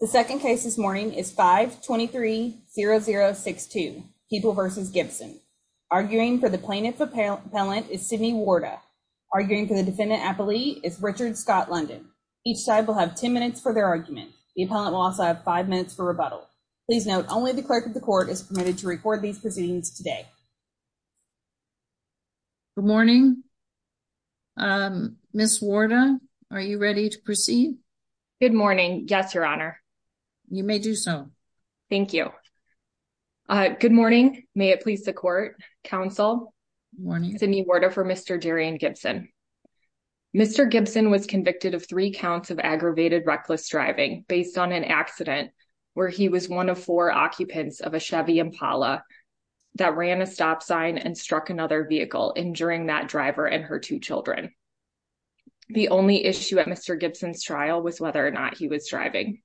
The second case this morning is 5-23-0062, People v. Gibson. Arguing for the plaintiff appellant is Sidney Warda. Arguing for the defendant appellee is Richard Scott London. Each side will have 10 minutes for their argument. The appellant will also have 5 minutes for rebuttal. Please note, only the clerk of the court is permitted to record these proceedings today. Good morning. Ms. Warda, are you ready to proceed? Good morning. Yes, Your Honor. You may do so. Thank you. Good morning. May it please the court, counsel. Morning. Sidney Warda for Mr. Darian Gibson. Mr. Gibson was convicted of three counts of aggravated reckless driving based on an accident where he was one of four occupants of a Chevy Impala that ran a stop sign and struck another vehicle, injuring that driver and her two children. The only issue at Mr. Gibson's trial was whether or not he was driving.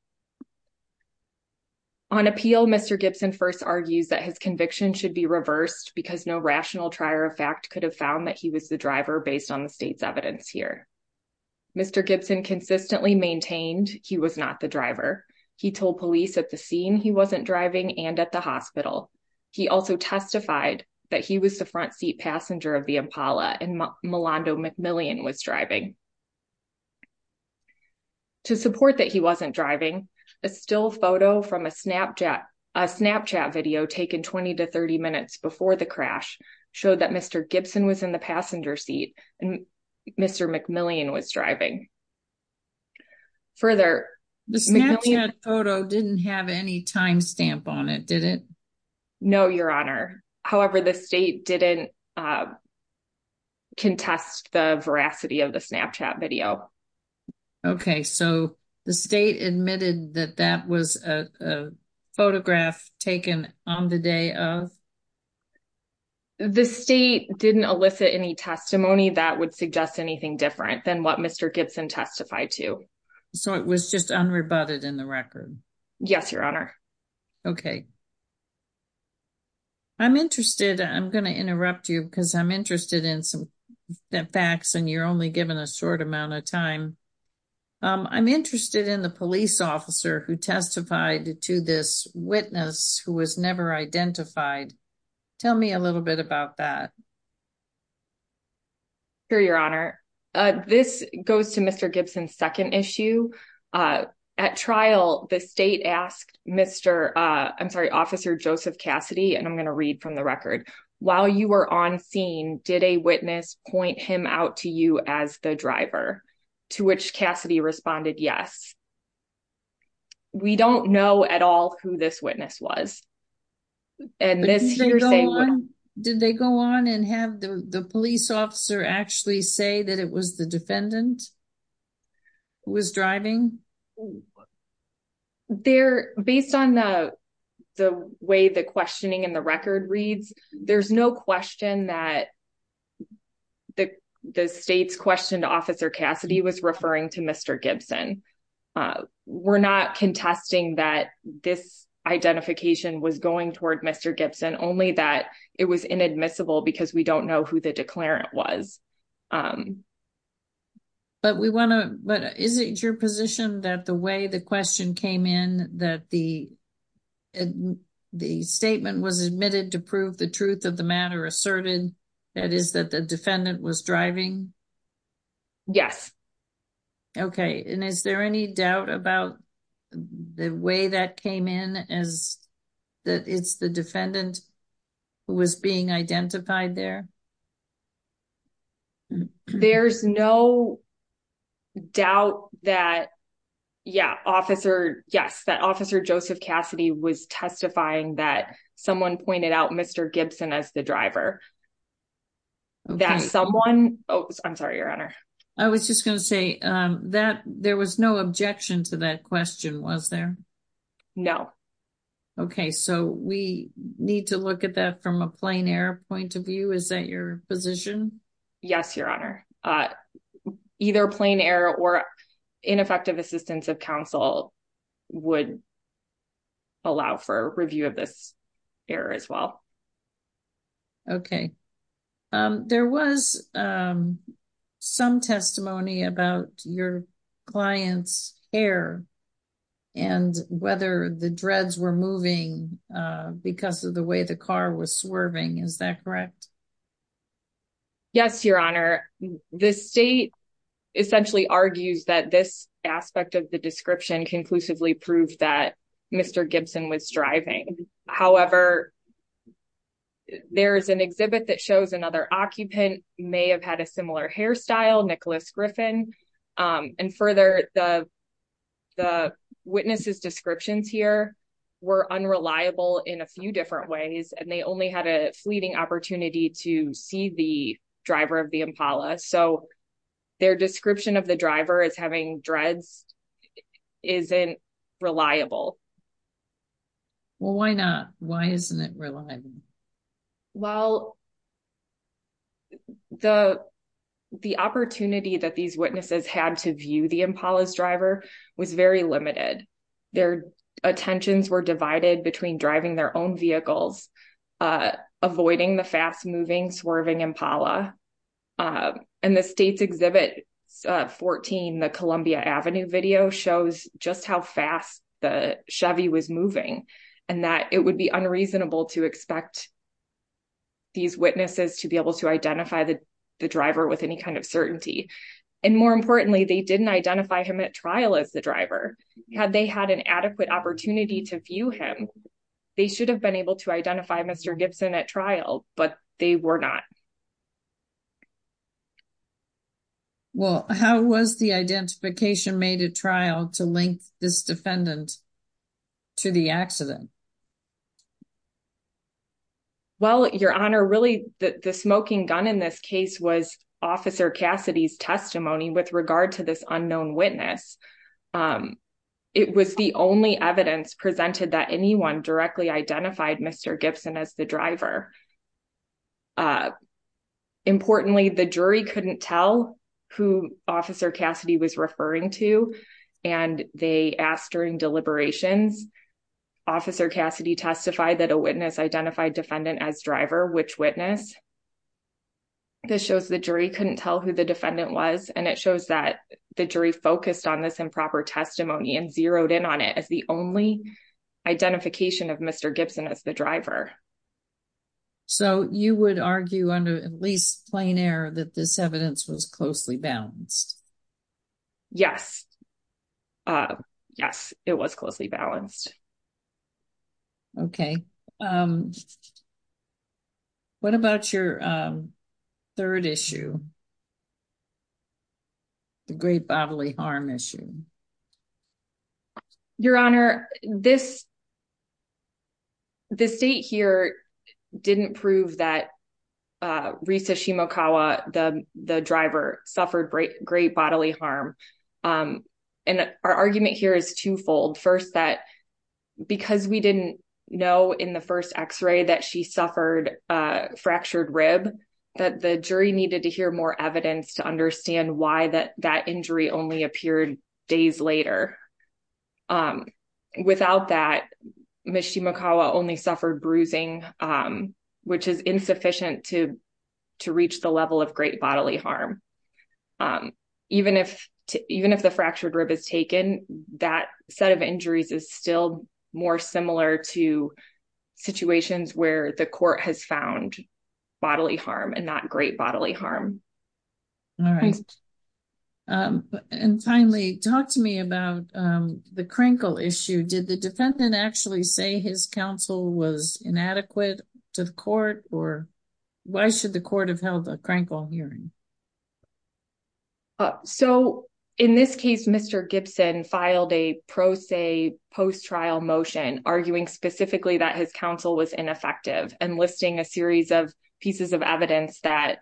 On appeal, Mr. Gibson first argues that his conviction should be reversed because no rational trier of fact could have found that he was the driver based on the state's evidence here. Mr. Gibson consistently maintained he was not the driver. He told police at the scene he wasn't driving and at the hospital. He also testified that he was the front seat passenger of the Impala and Milando McMillian was driving. To support that he wasn't driving, a still photo from a Snapchat video taken 20 to 30 minutes before the crash showed that Mr. Gibson was in the passenger seat and Mr. McMillian was driving. Further, the Snapchat photo didn't have any time stamp on it, did it? No, Your Honor. However, the state didn't contest the veracity of the Snapchat photo. Okay, so the state admitted that that was a photograph taken on the day of? The state didn't elicit any testimony that would suggest anything different than what Mr. Gibson testified to. So it was just unrebutted in the record? Yes, Your Honor. Okay. I'm interested, I'm going to interrupt you because I'm interested in some facts and you're only given a short amount of time. I'm interested in the police officer who testified to this witness who was never identified. Tell me a little bit about that. Sure, Your Honor. This goes to Mr. Gibson's second issue. At trial, the state asked Mr. I'm sorry, Officer Joseph Cassidy, and I'm going to read from the record. While you were on scene, did a witness point him out to you as the driver? To which Cassidy responded, yes. We don't know at all who this witness was. Did they go on and have the police officer actually say that it was the defendant who was driving? Well, based on the way the questioning in the record reads, there's no question that the state's questioned Officer Cassidy was referring to Mr. Gibson. We're not contesting that this identification was going toward Mr. Gibson, only that it was inadmissible because we don't know who the declarant was. But we want to, but is it your position that the way the question came in, that the statement was admitted to prove the truth of the matter asserted, that is that the defendant was driving? Yes. Okay, and is there any doubt about the way that came in as that it's the defendant who was being identified there? There's no doubt that, yeah, Officer, yes, that Officer Joseph Cassidy was testifying that someone pointed out Mr. Gibson as the driver. That someone, oh, I'm sorry, Your Honor. I was just going to say that there was no objection to that question, was there? No. Okay, so we need to look at that from a plain air point of view. Is that your position? Yes, Your Honor. Either plain air or ineffective assistance of counsel would allow for review of this error as well. Okay. There was some testimony about your client's hair and whether the dreads were moving because of the way the car was swerving, is that correct? Yes, Your Honor. The state essentially argues that this aspect of the description conclusively proved that Mr. Gibson was driving. However, there is an exhibit that shows another occupant may have had a similar hairstyle, Nicholas Griffin, and further, the witness's descriptions here were unreliable in a few driver of the Impala, so their description of the driver as having dreads isn't reliable. Well, why not? Why isn't it reliable? Well, the opportunity that these witnesses had to view the Impala's driver was very limited. Their attentions were divided between driving their own vehicles, avoiding the fast-moving, swerving Impala, and the state's Exhibit 14, the Columbia Avenue video, shows just how fast the Chevy was moving and that it would be unreasonable to expect these witnesses to be able to identify the driver with any kind of certainty. More importantly, they didn't identify him at trial as the driver. Had they had an adequate opportunity to view him, they should have been able to identify Mr. Gibson at trial, but they were not. Well, how was the identification made at trial to link this defendant to the accident? Well, Your Honor, really, the smoking gun in this case was Officer Cassidy's testimony with regard to this unknown witness. It was the only evidence presented that anyone directly identified Mr. Gibson as the driver. Importantly, the jury couldn't tell who Officer Cassidy was referring to, and they asked during deliberations, Officer Cassidy testified that a witness identified defendant as driver, which witness? This shows the jury couldn't tell who the defendant was, and it shows that the jury focused on this improper testimony and zeroed in on it as the only identification of Mr. Gibson as the driver. So you would argue under at least plain error that this evidence was closely balanced? Yes. Yes, it was closely balanced. Okay. What about your third issue? The great bodily harm issue. Your Honor, this state here didn't prove that Risa Shimokawa, the driver, suffered great bodily harm. And our argument here is twofold. First, that because we didn't know in the first x-ray that she suffered a fractured rib, that the jury needed to hear more evidence to understand why that injury only appeared days later. Without that, Ms. Shimokawa only suffered bruising, which is insufficient to reach the level of great bodily harm. Even if the fractured rib is taken, that set of injuries is still more similar to where the court has found bodily harm and not great bodily harm. All right. And finally, talk to me about the Krenkel issue. Did the defendant actually say his counsel was inadequate to the court, or why should the court have held a Krenkel hearing? So in this case, Mr. Gibson filed a pro se post-trial motion arguing specifically that his counsel was ineffective and listing a series of pieces of evidence that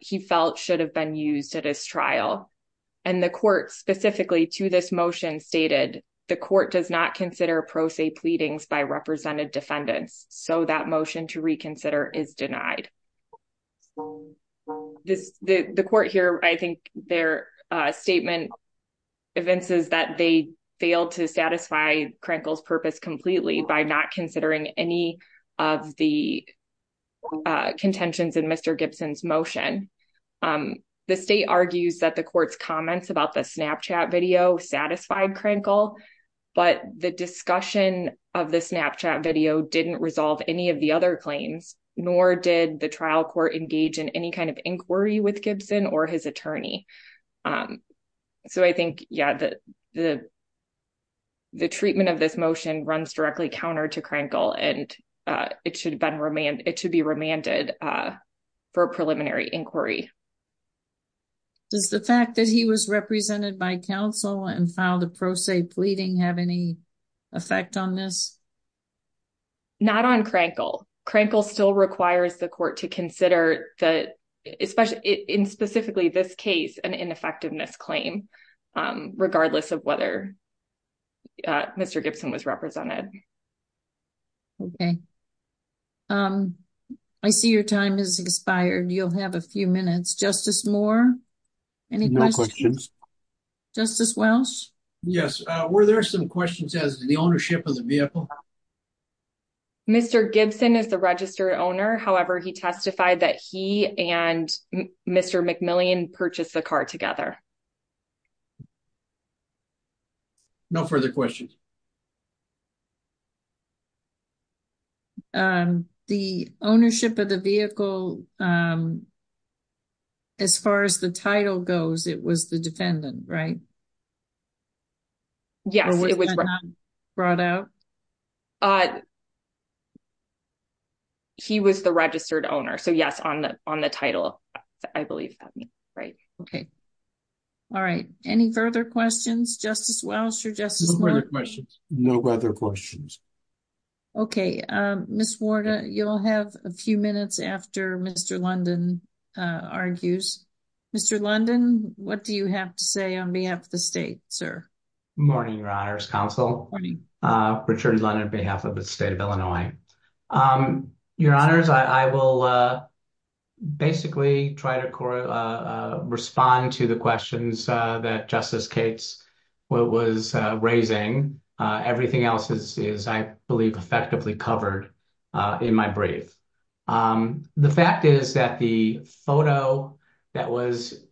he felt should have been used at his trial. And the court specifically to this motion stated, the court does not consider pro se pleadings by represented defendants. So that motion to reconsider is denied. The court here, I think their statement evinces that they failed to satisfy Krenkel's purpose completely by not considering any of the contentions in Mr. Gibson's motion. The state argues that the court's comments about the Snapchat video satisfied Krenkel, but the discussion of the Snapchat video didn't resolve any of the other claims, nor did the trial court engage in any kind of inquiry with Gibson or his attorney. So I think, yeah, the treatment of this motion runs directly counter to Krenkel, and it should be remanded for preliminary inquiry. Does the fact that he was represented by counsel and filed a pro se pleading have any effect on this? Not on Krenkel. Krenkel still requires the court to consider the, especially in specifically this case, an ineffectiveness claim, regardless of whether Mr. Gibson was represented. Okay. I see your time has expired. You'll have a few minutes. Justice Moore? Any questions? No questions. Justice Welsh? Yes. Were there some questions as to the ownership of the vehicle? Mr. Gibson is the registered owner. However, he testified that he and Mr. McMillian purchased the car together. No further questions. The ownership of the vehicle, as far as the title goes, it was the defendant, right? Yes. Was that not brought out? Uh, he was the registered owner. So yes, on the title, I believe that means, right? Okay. All right. Any further questions, Justice Welsh or Justice Moore? No further questions. No further questions. Okay. Ms. Ward, you'll have a few minutes after Mr. London argues. Mr. London, what do you have to say on behalf of the state, sir? Morning, Your Honors Counsel. Richard London on behalf of the state of Illinois. Your Honors, I will basically try to respond to the questions that Justice Cates was raising. Everything else is, I believe, effectively covered in my brief. The fact is that the video, there was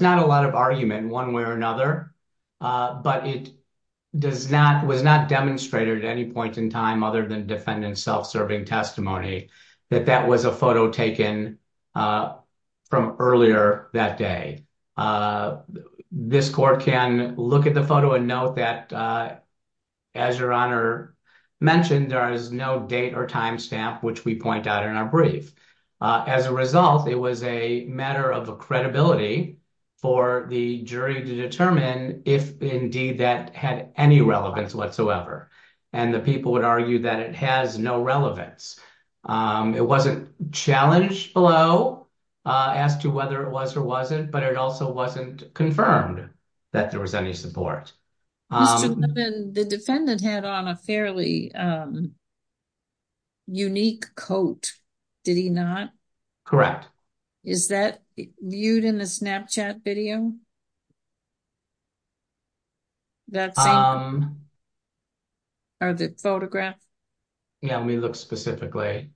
not a lot of argument in one way or another, but it was not demonstrated at any point in time other than defendant's self-serving testimony that that was a photo taken from earlier that day. This court can look at the photo and note that, as Your Honor mentioned, there is no date or timestamp, which we point out in our brief. As a result, it was a matter of credibility for the jury to determine if indeed that had any relevance whatsoever. And the people would argue that it has no relevance. It wasn't challenged below as to whether it was or wasn't, but it also wasn't confirmed that there was any support. Mr. London, the defendant had on a fairly unique coat, did he not? Correct. Is that viewed in the Snapchat video? Or the photograph? Yeah, let me look specifically.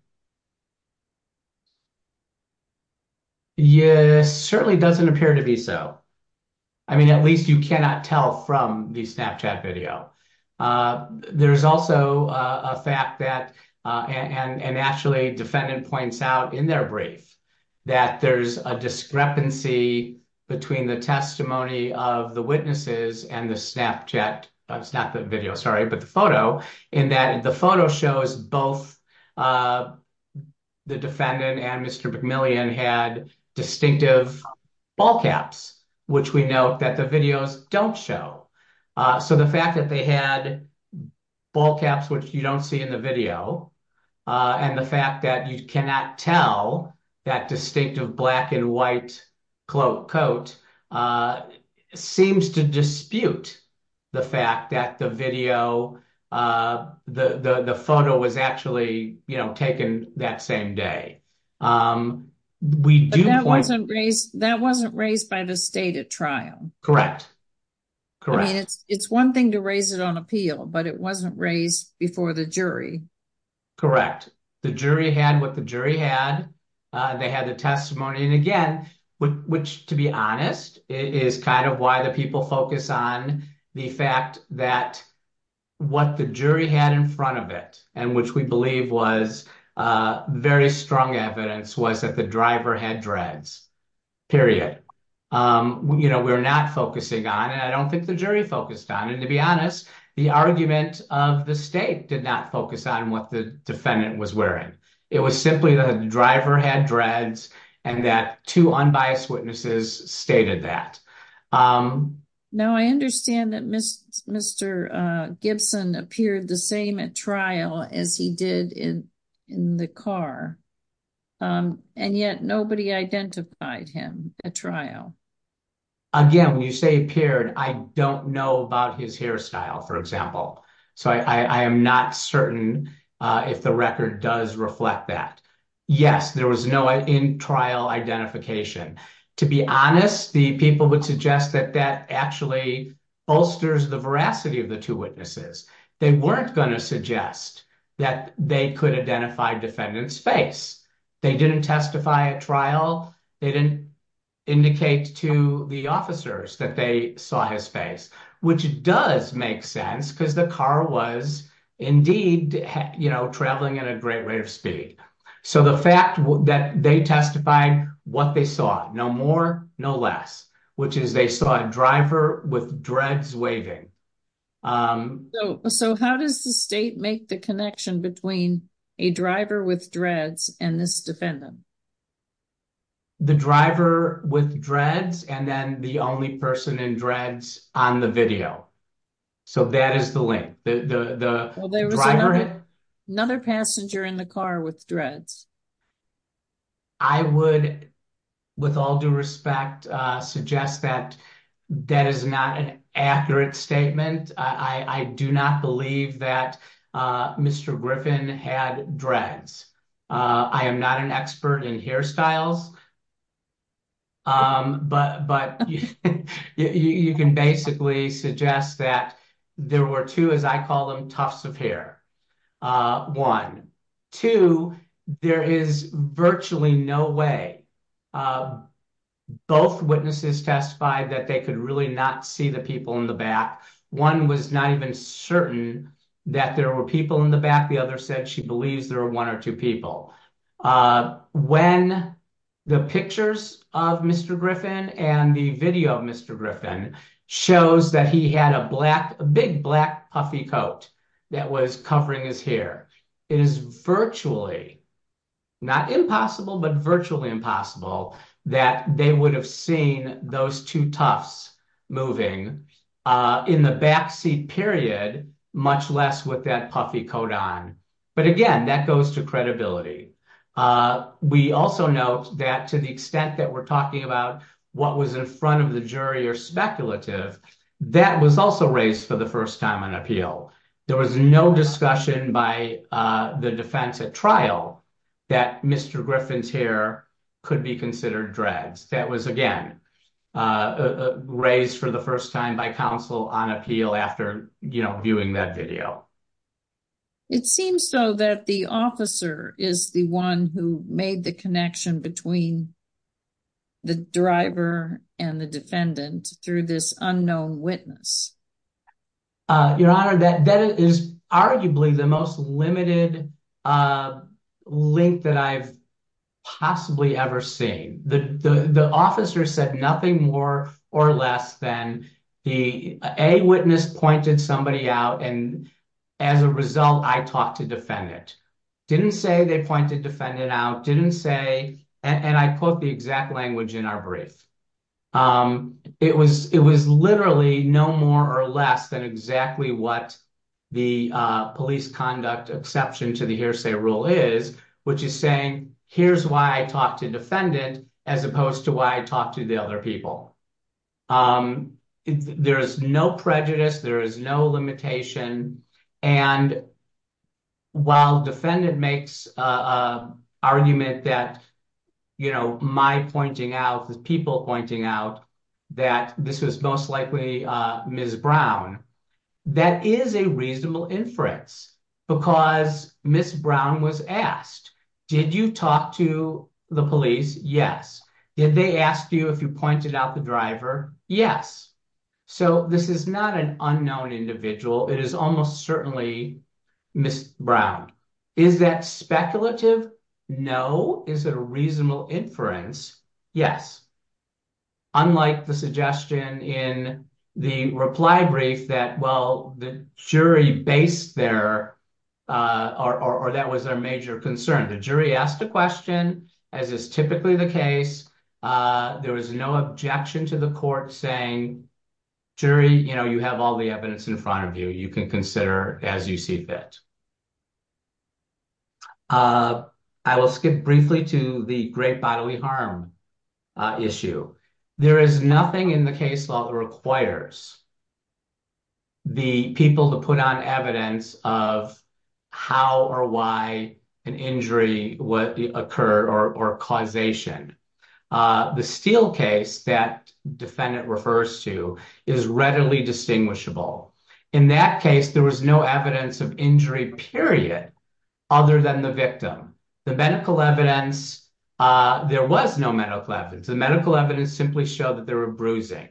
Yes, certainly doesn't appear to be so. I mean, at least you cannot tell from the Snapchat video. There's also a fact that, and actually defendant points out in their brief, that there's a discrepancy between the testimony of the witnesses and the Snapchat video, in that the photo shows both the defendant and Mr. McMillian had distinctive ball caps, which we note that the videos don't show. So the fact that they had ball caps, which you don't see in the video, and the fact that you cannot tell that distinctive black and white coat seems to dispute the fact that the photo was actually taken that same day. But that wasn't raised by the state at trial? Correct, correct. I mean, it's one thing to raise it on appeal, but it wasn't raised before the jury. Correct. The jury had what the jury had. They had the testimony. And again, which to be honest, is kind of why the people focus on the fact that what the jury had in front of it, and which we believe was very strong evidence, was that the driver had dreads, period. We're not focusing on, and I don't think the jury focused on, and to be honest, the argument of the state did not focus on what the defendant was wearing. It was simply that the driver had dreads and that two unbiased witnesses stated that. Now, I understand that Mr. Gibson appeared the same at trial as he did in the car, and yet nobody identified him at trial. Again, when you say appeared, I don't know about his hairstyle, for example. So I am not certain if the record does reflect that. Yes, there was no in-trial identification. To be honest, the people would suggest that that actually bolsters the veracity of the two witnesses. They weren't going to suggest that they could identify defendant's face. They didn't testify at trial. They didn't indicate to the officers that they saw his face, which does make sense because the car was indeed traveling at a great rate of speed. So the fact that they testified what they saw, no more, no less, which is they saw a driver with dreads waving. So how does the state make the connection between a driver with dreads and this defendant? The driver with dreads and then the only person in dreads on the video. So that is the link. Another passenger in the car with dreads. I would, with all due respect, suggest that that is not an accurate statement. I do not believe that Mr. Griffin had dreads. I am not an toughs of hair. Two, there is virtually no way both witnesses testified that they could really not see the people in the back. One was not even certain that there were people in the back. The other said she believes there were one or two people. When the pictures of Mr. Griffin and the video of Mr. Griffin shows that he had a big black puffy coat that was covering his hair, it is virtually, not impossible, but virtually impossible that they would have seen those two toughs moving in the backseat period, much less with that puffy coat on. But again, that goes to front of the jury or speculative. That was also raised for the first time on appeal. There was no discussion by the defense at trial that Mr. Griffin's hair could be considered dreads. That was again raised for the first time by counsel on appeal after, you know, viewing that video. It seems so that the officer is the one who made the connection between the driver and the defendant through this unknown witness. Your Honor, that is arguably the most limited link that I've possibly ever seen. The officer said nothing more or less than the eyewitness pointed somebody out and as a result I talked to defendant. Didn't say they pointed defendant out, didn't say, and I quote the exact language in our brief, it was literally no more or less than exactly what the police conduct exception to the hearsay rule is, which is saying here's why I talked to defendant as opposed to why I other people. There is no prejudice. There is no limitation. And while defendant makes argument that, you know, my pointing out, the people pointing out that this was most likely Ms. Brown, that is a reasonable inference because Ms. Brown was asked, did you talk to the police? Yes. Did they ask you if you pointed out the driver? Yes. So this is not an unknown individual. It is almost certainly Ms. Brown. Is that speculative? No. Is it a reasonable inference? Yes. Unlike the suggestion in the reply brief that, well, the jury based their, or that was their major concern. The jury asked a question as is typically the case. There was no objection to the court saying, jury, you know, you have all the evidence in front of you. You can consider as you see fit. I will skip briefly to the great bodily harm issue. There is nothing in case law that requires the people to put on evidence of how or why an injury would occur or causation. The Steele case that defendant refers to is readily distinguishable. In that case, there was no evidence of injury, period, other than the victim. The medical evidence, there was no medical evidence. The medical evidence simply showed that there were bruising.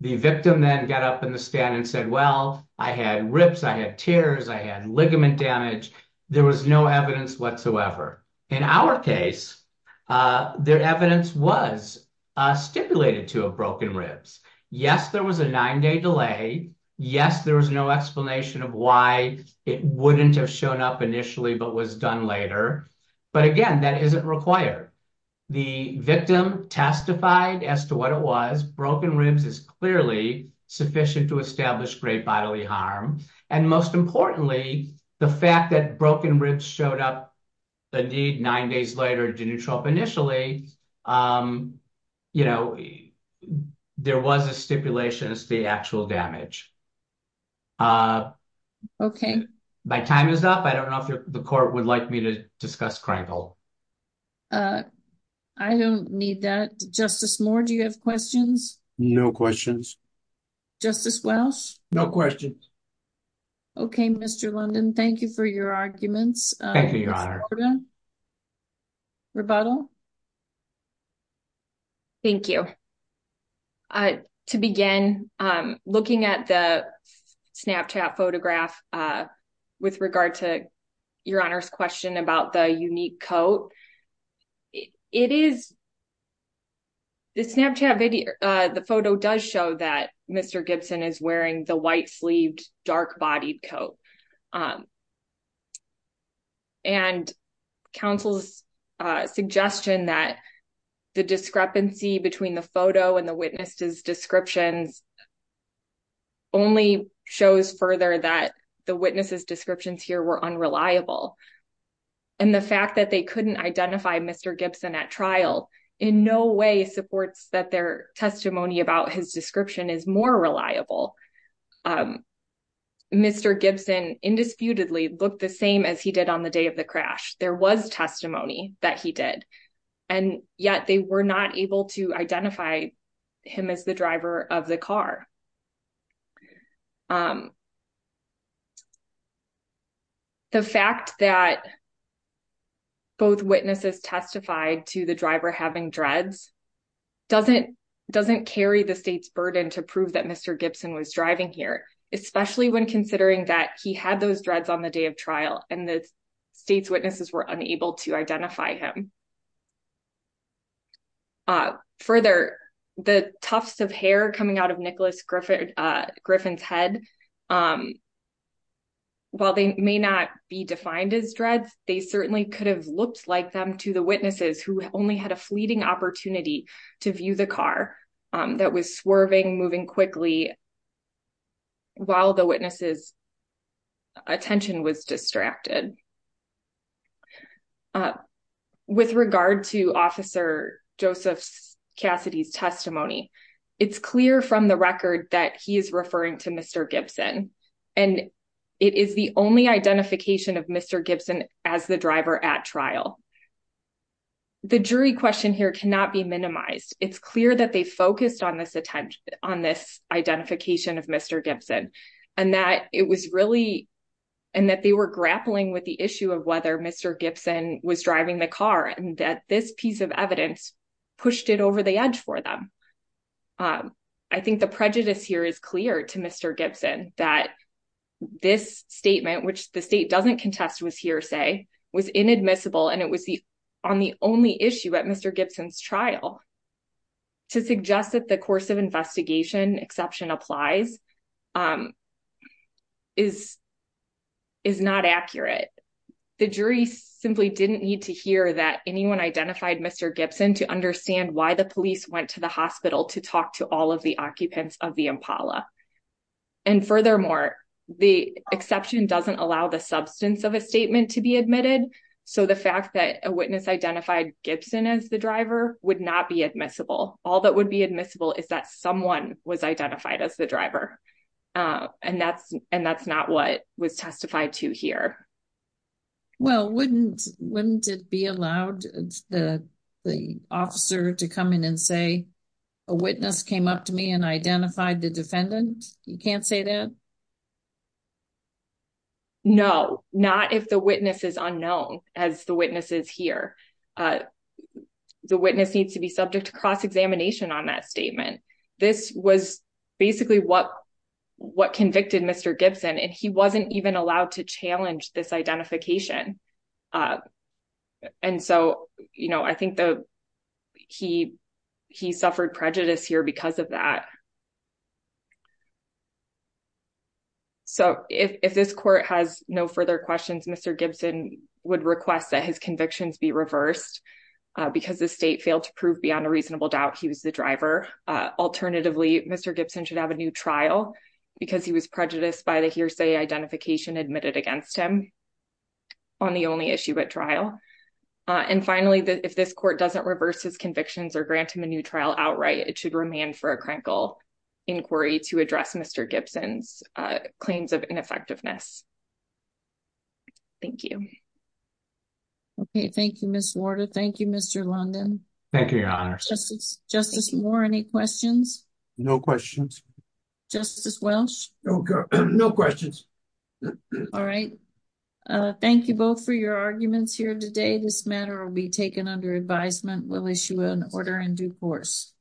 The victim then got up in the stand and said, well, I had ribs, I had tears, I had ligament damage. There was no evidence whatsoever. In our case, their evidence was stipulated to have broken ribs. Yes, there was a nine-day delay. Yes, there was no explanation of why it wouldn't have shown up The victim testified as to what it was. Broken ribs is clearly sufficient to establish great bodily harm. And most importantly, the fact that broken ribs showed up, indeed, nine days later, didn't show up initially, you know, there was a stipulation as to the actual damage. My time is up. I don't know if the court would like me to discuss Krenkel. I don't need that. Justice Moore, do you have questions? No questions. Justice Welsh? No questions. Okay, Mr. London, thank you for your arguments. Thank you. To begin, looking at the Snapchat photograph with regard to your Honor's question about the unique coat, the photo does show that Mr. Gibson is wearing the white-sleeved, dark-bodied coat. And counsel's suggestion that the discrepancy between the photo and the witness's descriptions only shows further that the witness's descriptions here were unreliable. And the fact that they couldn't identify Mr. Gibson at trial in no way supports that their testimony about his description is more reliable. Mr. Gibson indisputably looked the same as he did on the day of the crash. There was testimony that he did, and yet they were not able to identify him as the driver of the car. The fact that both witnesses testified to the driver having dreads doesn't carry the state's burden to prove that Mr. Gibson was driving here, especially when considering that he had those dreads on the day of trial, and the state's witnesses were unable to identify him. Further, the tufts of hair coming out of Nicholas Griffin's head, while they may not be defined as dreads, they certainly could have looked like them to the witnesses, who only had a fleeting opportunity to view the car that was swerving, moving quickly while the witness's attention was distracted. With regard to Officer Joseph Cassidy's testimony, it's clear from the record that he is referring to Mr. Gibson, and it is the only identification of Mr. Gibson as the driver at trial. The jury question here cannot be minimized. It's clear that they focused on this identification of Mr. Gibson, and that they were grappling with the issue of whether Mr. Gibson was driving the car, and that this piece of evidence pushed it over the edge for them. I think the prejudice here is clear to Mr. Gibson that this statement, which the state doesn't contest with hearsay, was inadmissible, and it was on the only issue at Mr. Gibson's trial. To suggest that the course of investigation exception applies is not accurate. The jury simply didn't need to hear that anyone identified Mr. Gibson to understand why the police went to the hospital to talk to all of the occupants of the Impala. And furthermore, the exception doesn't allow the substance of a statement to be admitted, so the fact that a witness identified Gibson as the driver would not be admissible. All that would be admissible is that someone was identified as the driver, and that's not what was testified to here. Well, wouldn't it be allowed the officer to come in and say, a witness came up to me and identified the defendant? You can't say that? No, not if the witness is unknown, as the witness is here. The witness needs to be subject to cross examination on that statement. This was basically what convicted Mr. Gibson, and he wasn't even allowed to challenge this identification. And so, you know, I think he suffered prejudice here because of that. So if this court has no further questions, Mr. Gibson would request that his convictions be reversed because the state failed to prove beyond a reasonable doubt he was the driver. Alternatively, Mr. Gibson should have a new trial because he was prejudiced by the hearsay identification admitted against him on the only issue at trial. And finally, if this court doesn't reverse his convictions or grant him a new trial outright, it should remain for a critical inquiry to address Mr. Gibson's claims of ineffectiveness. Thank you. Okay, thank you, Ms. Warder. Thank you, Mr. London. Thank you, Your Honor. Justice Moore, any questions? No questions. Justice Welch? No questions. All right. Thank you both for your arguments here today. This matter will be taken under advisement. We'll issue an order in due course.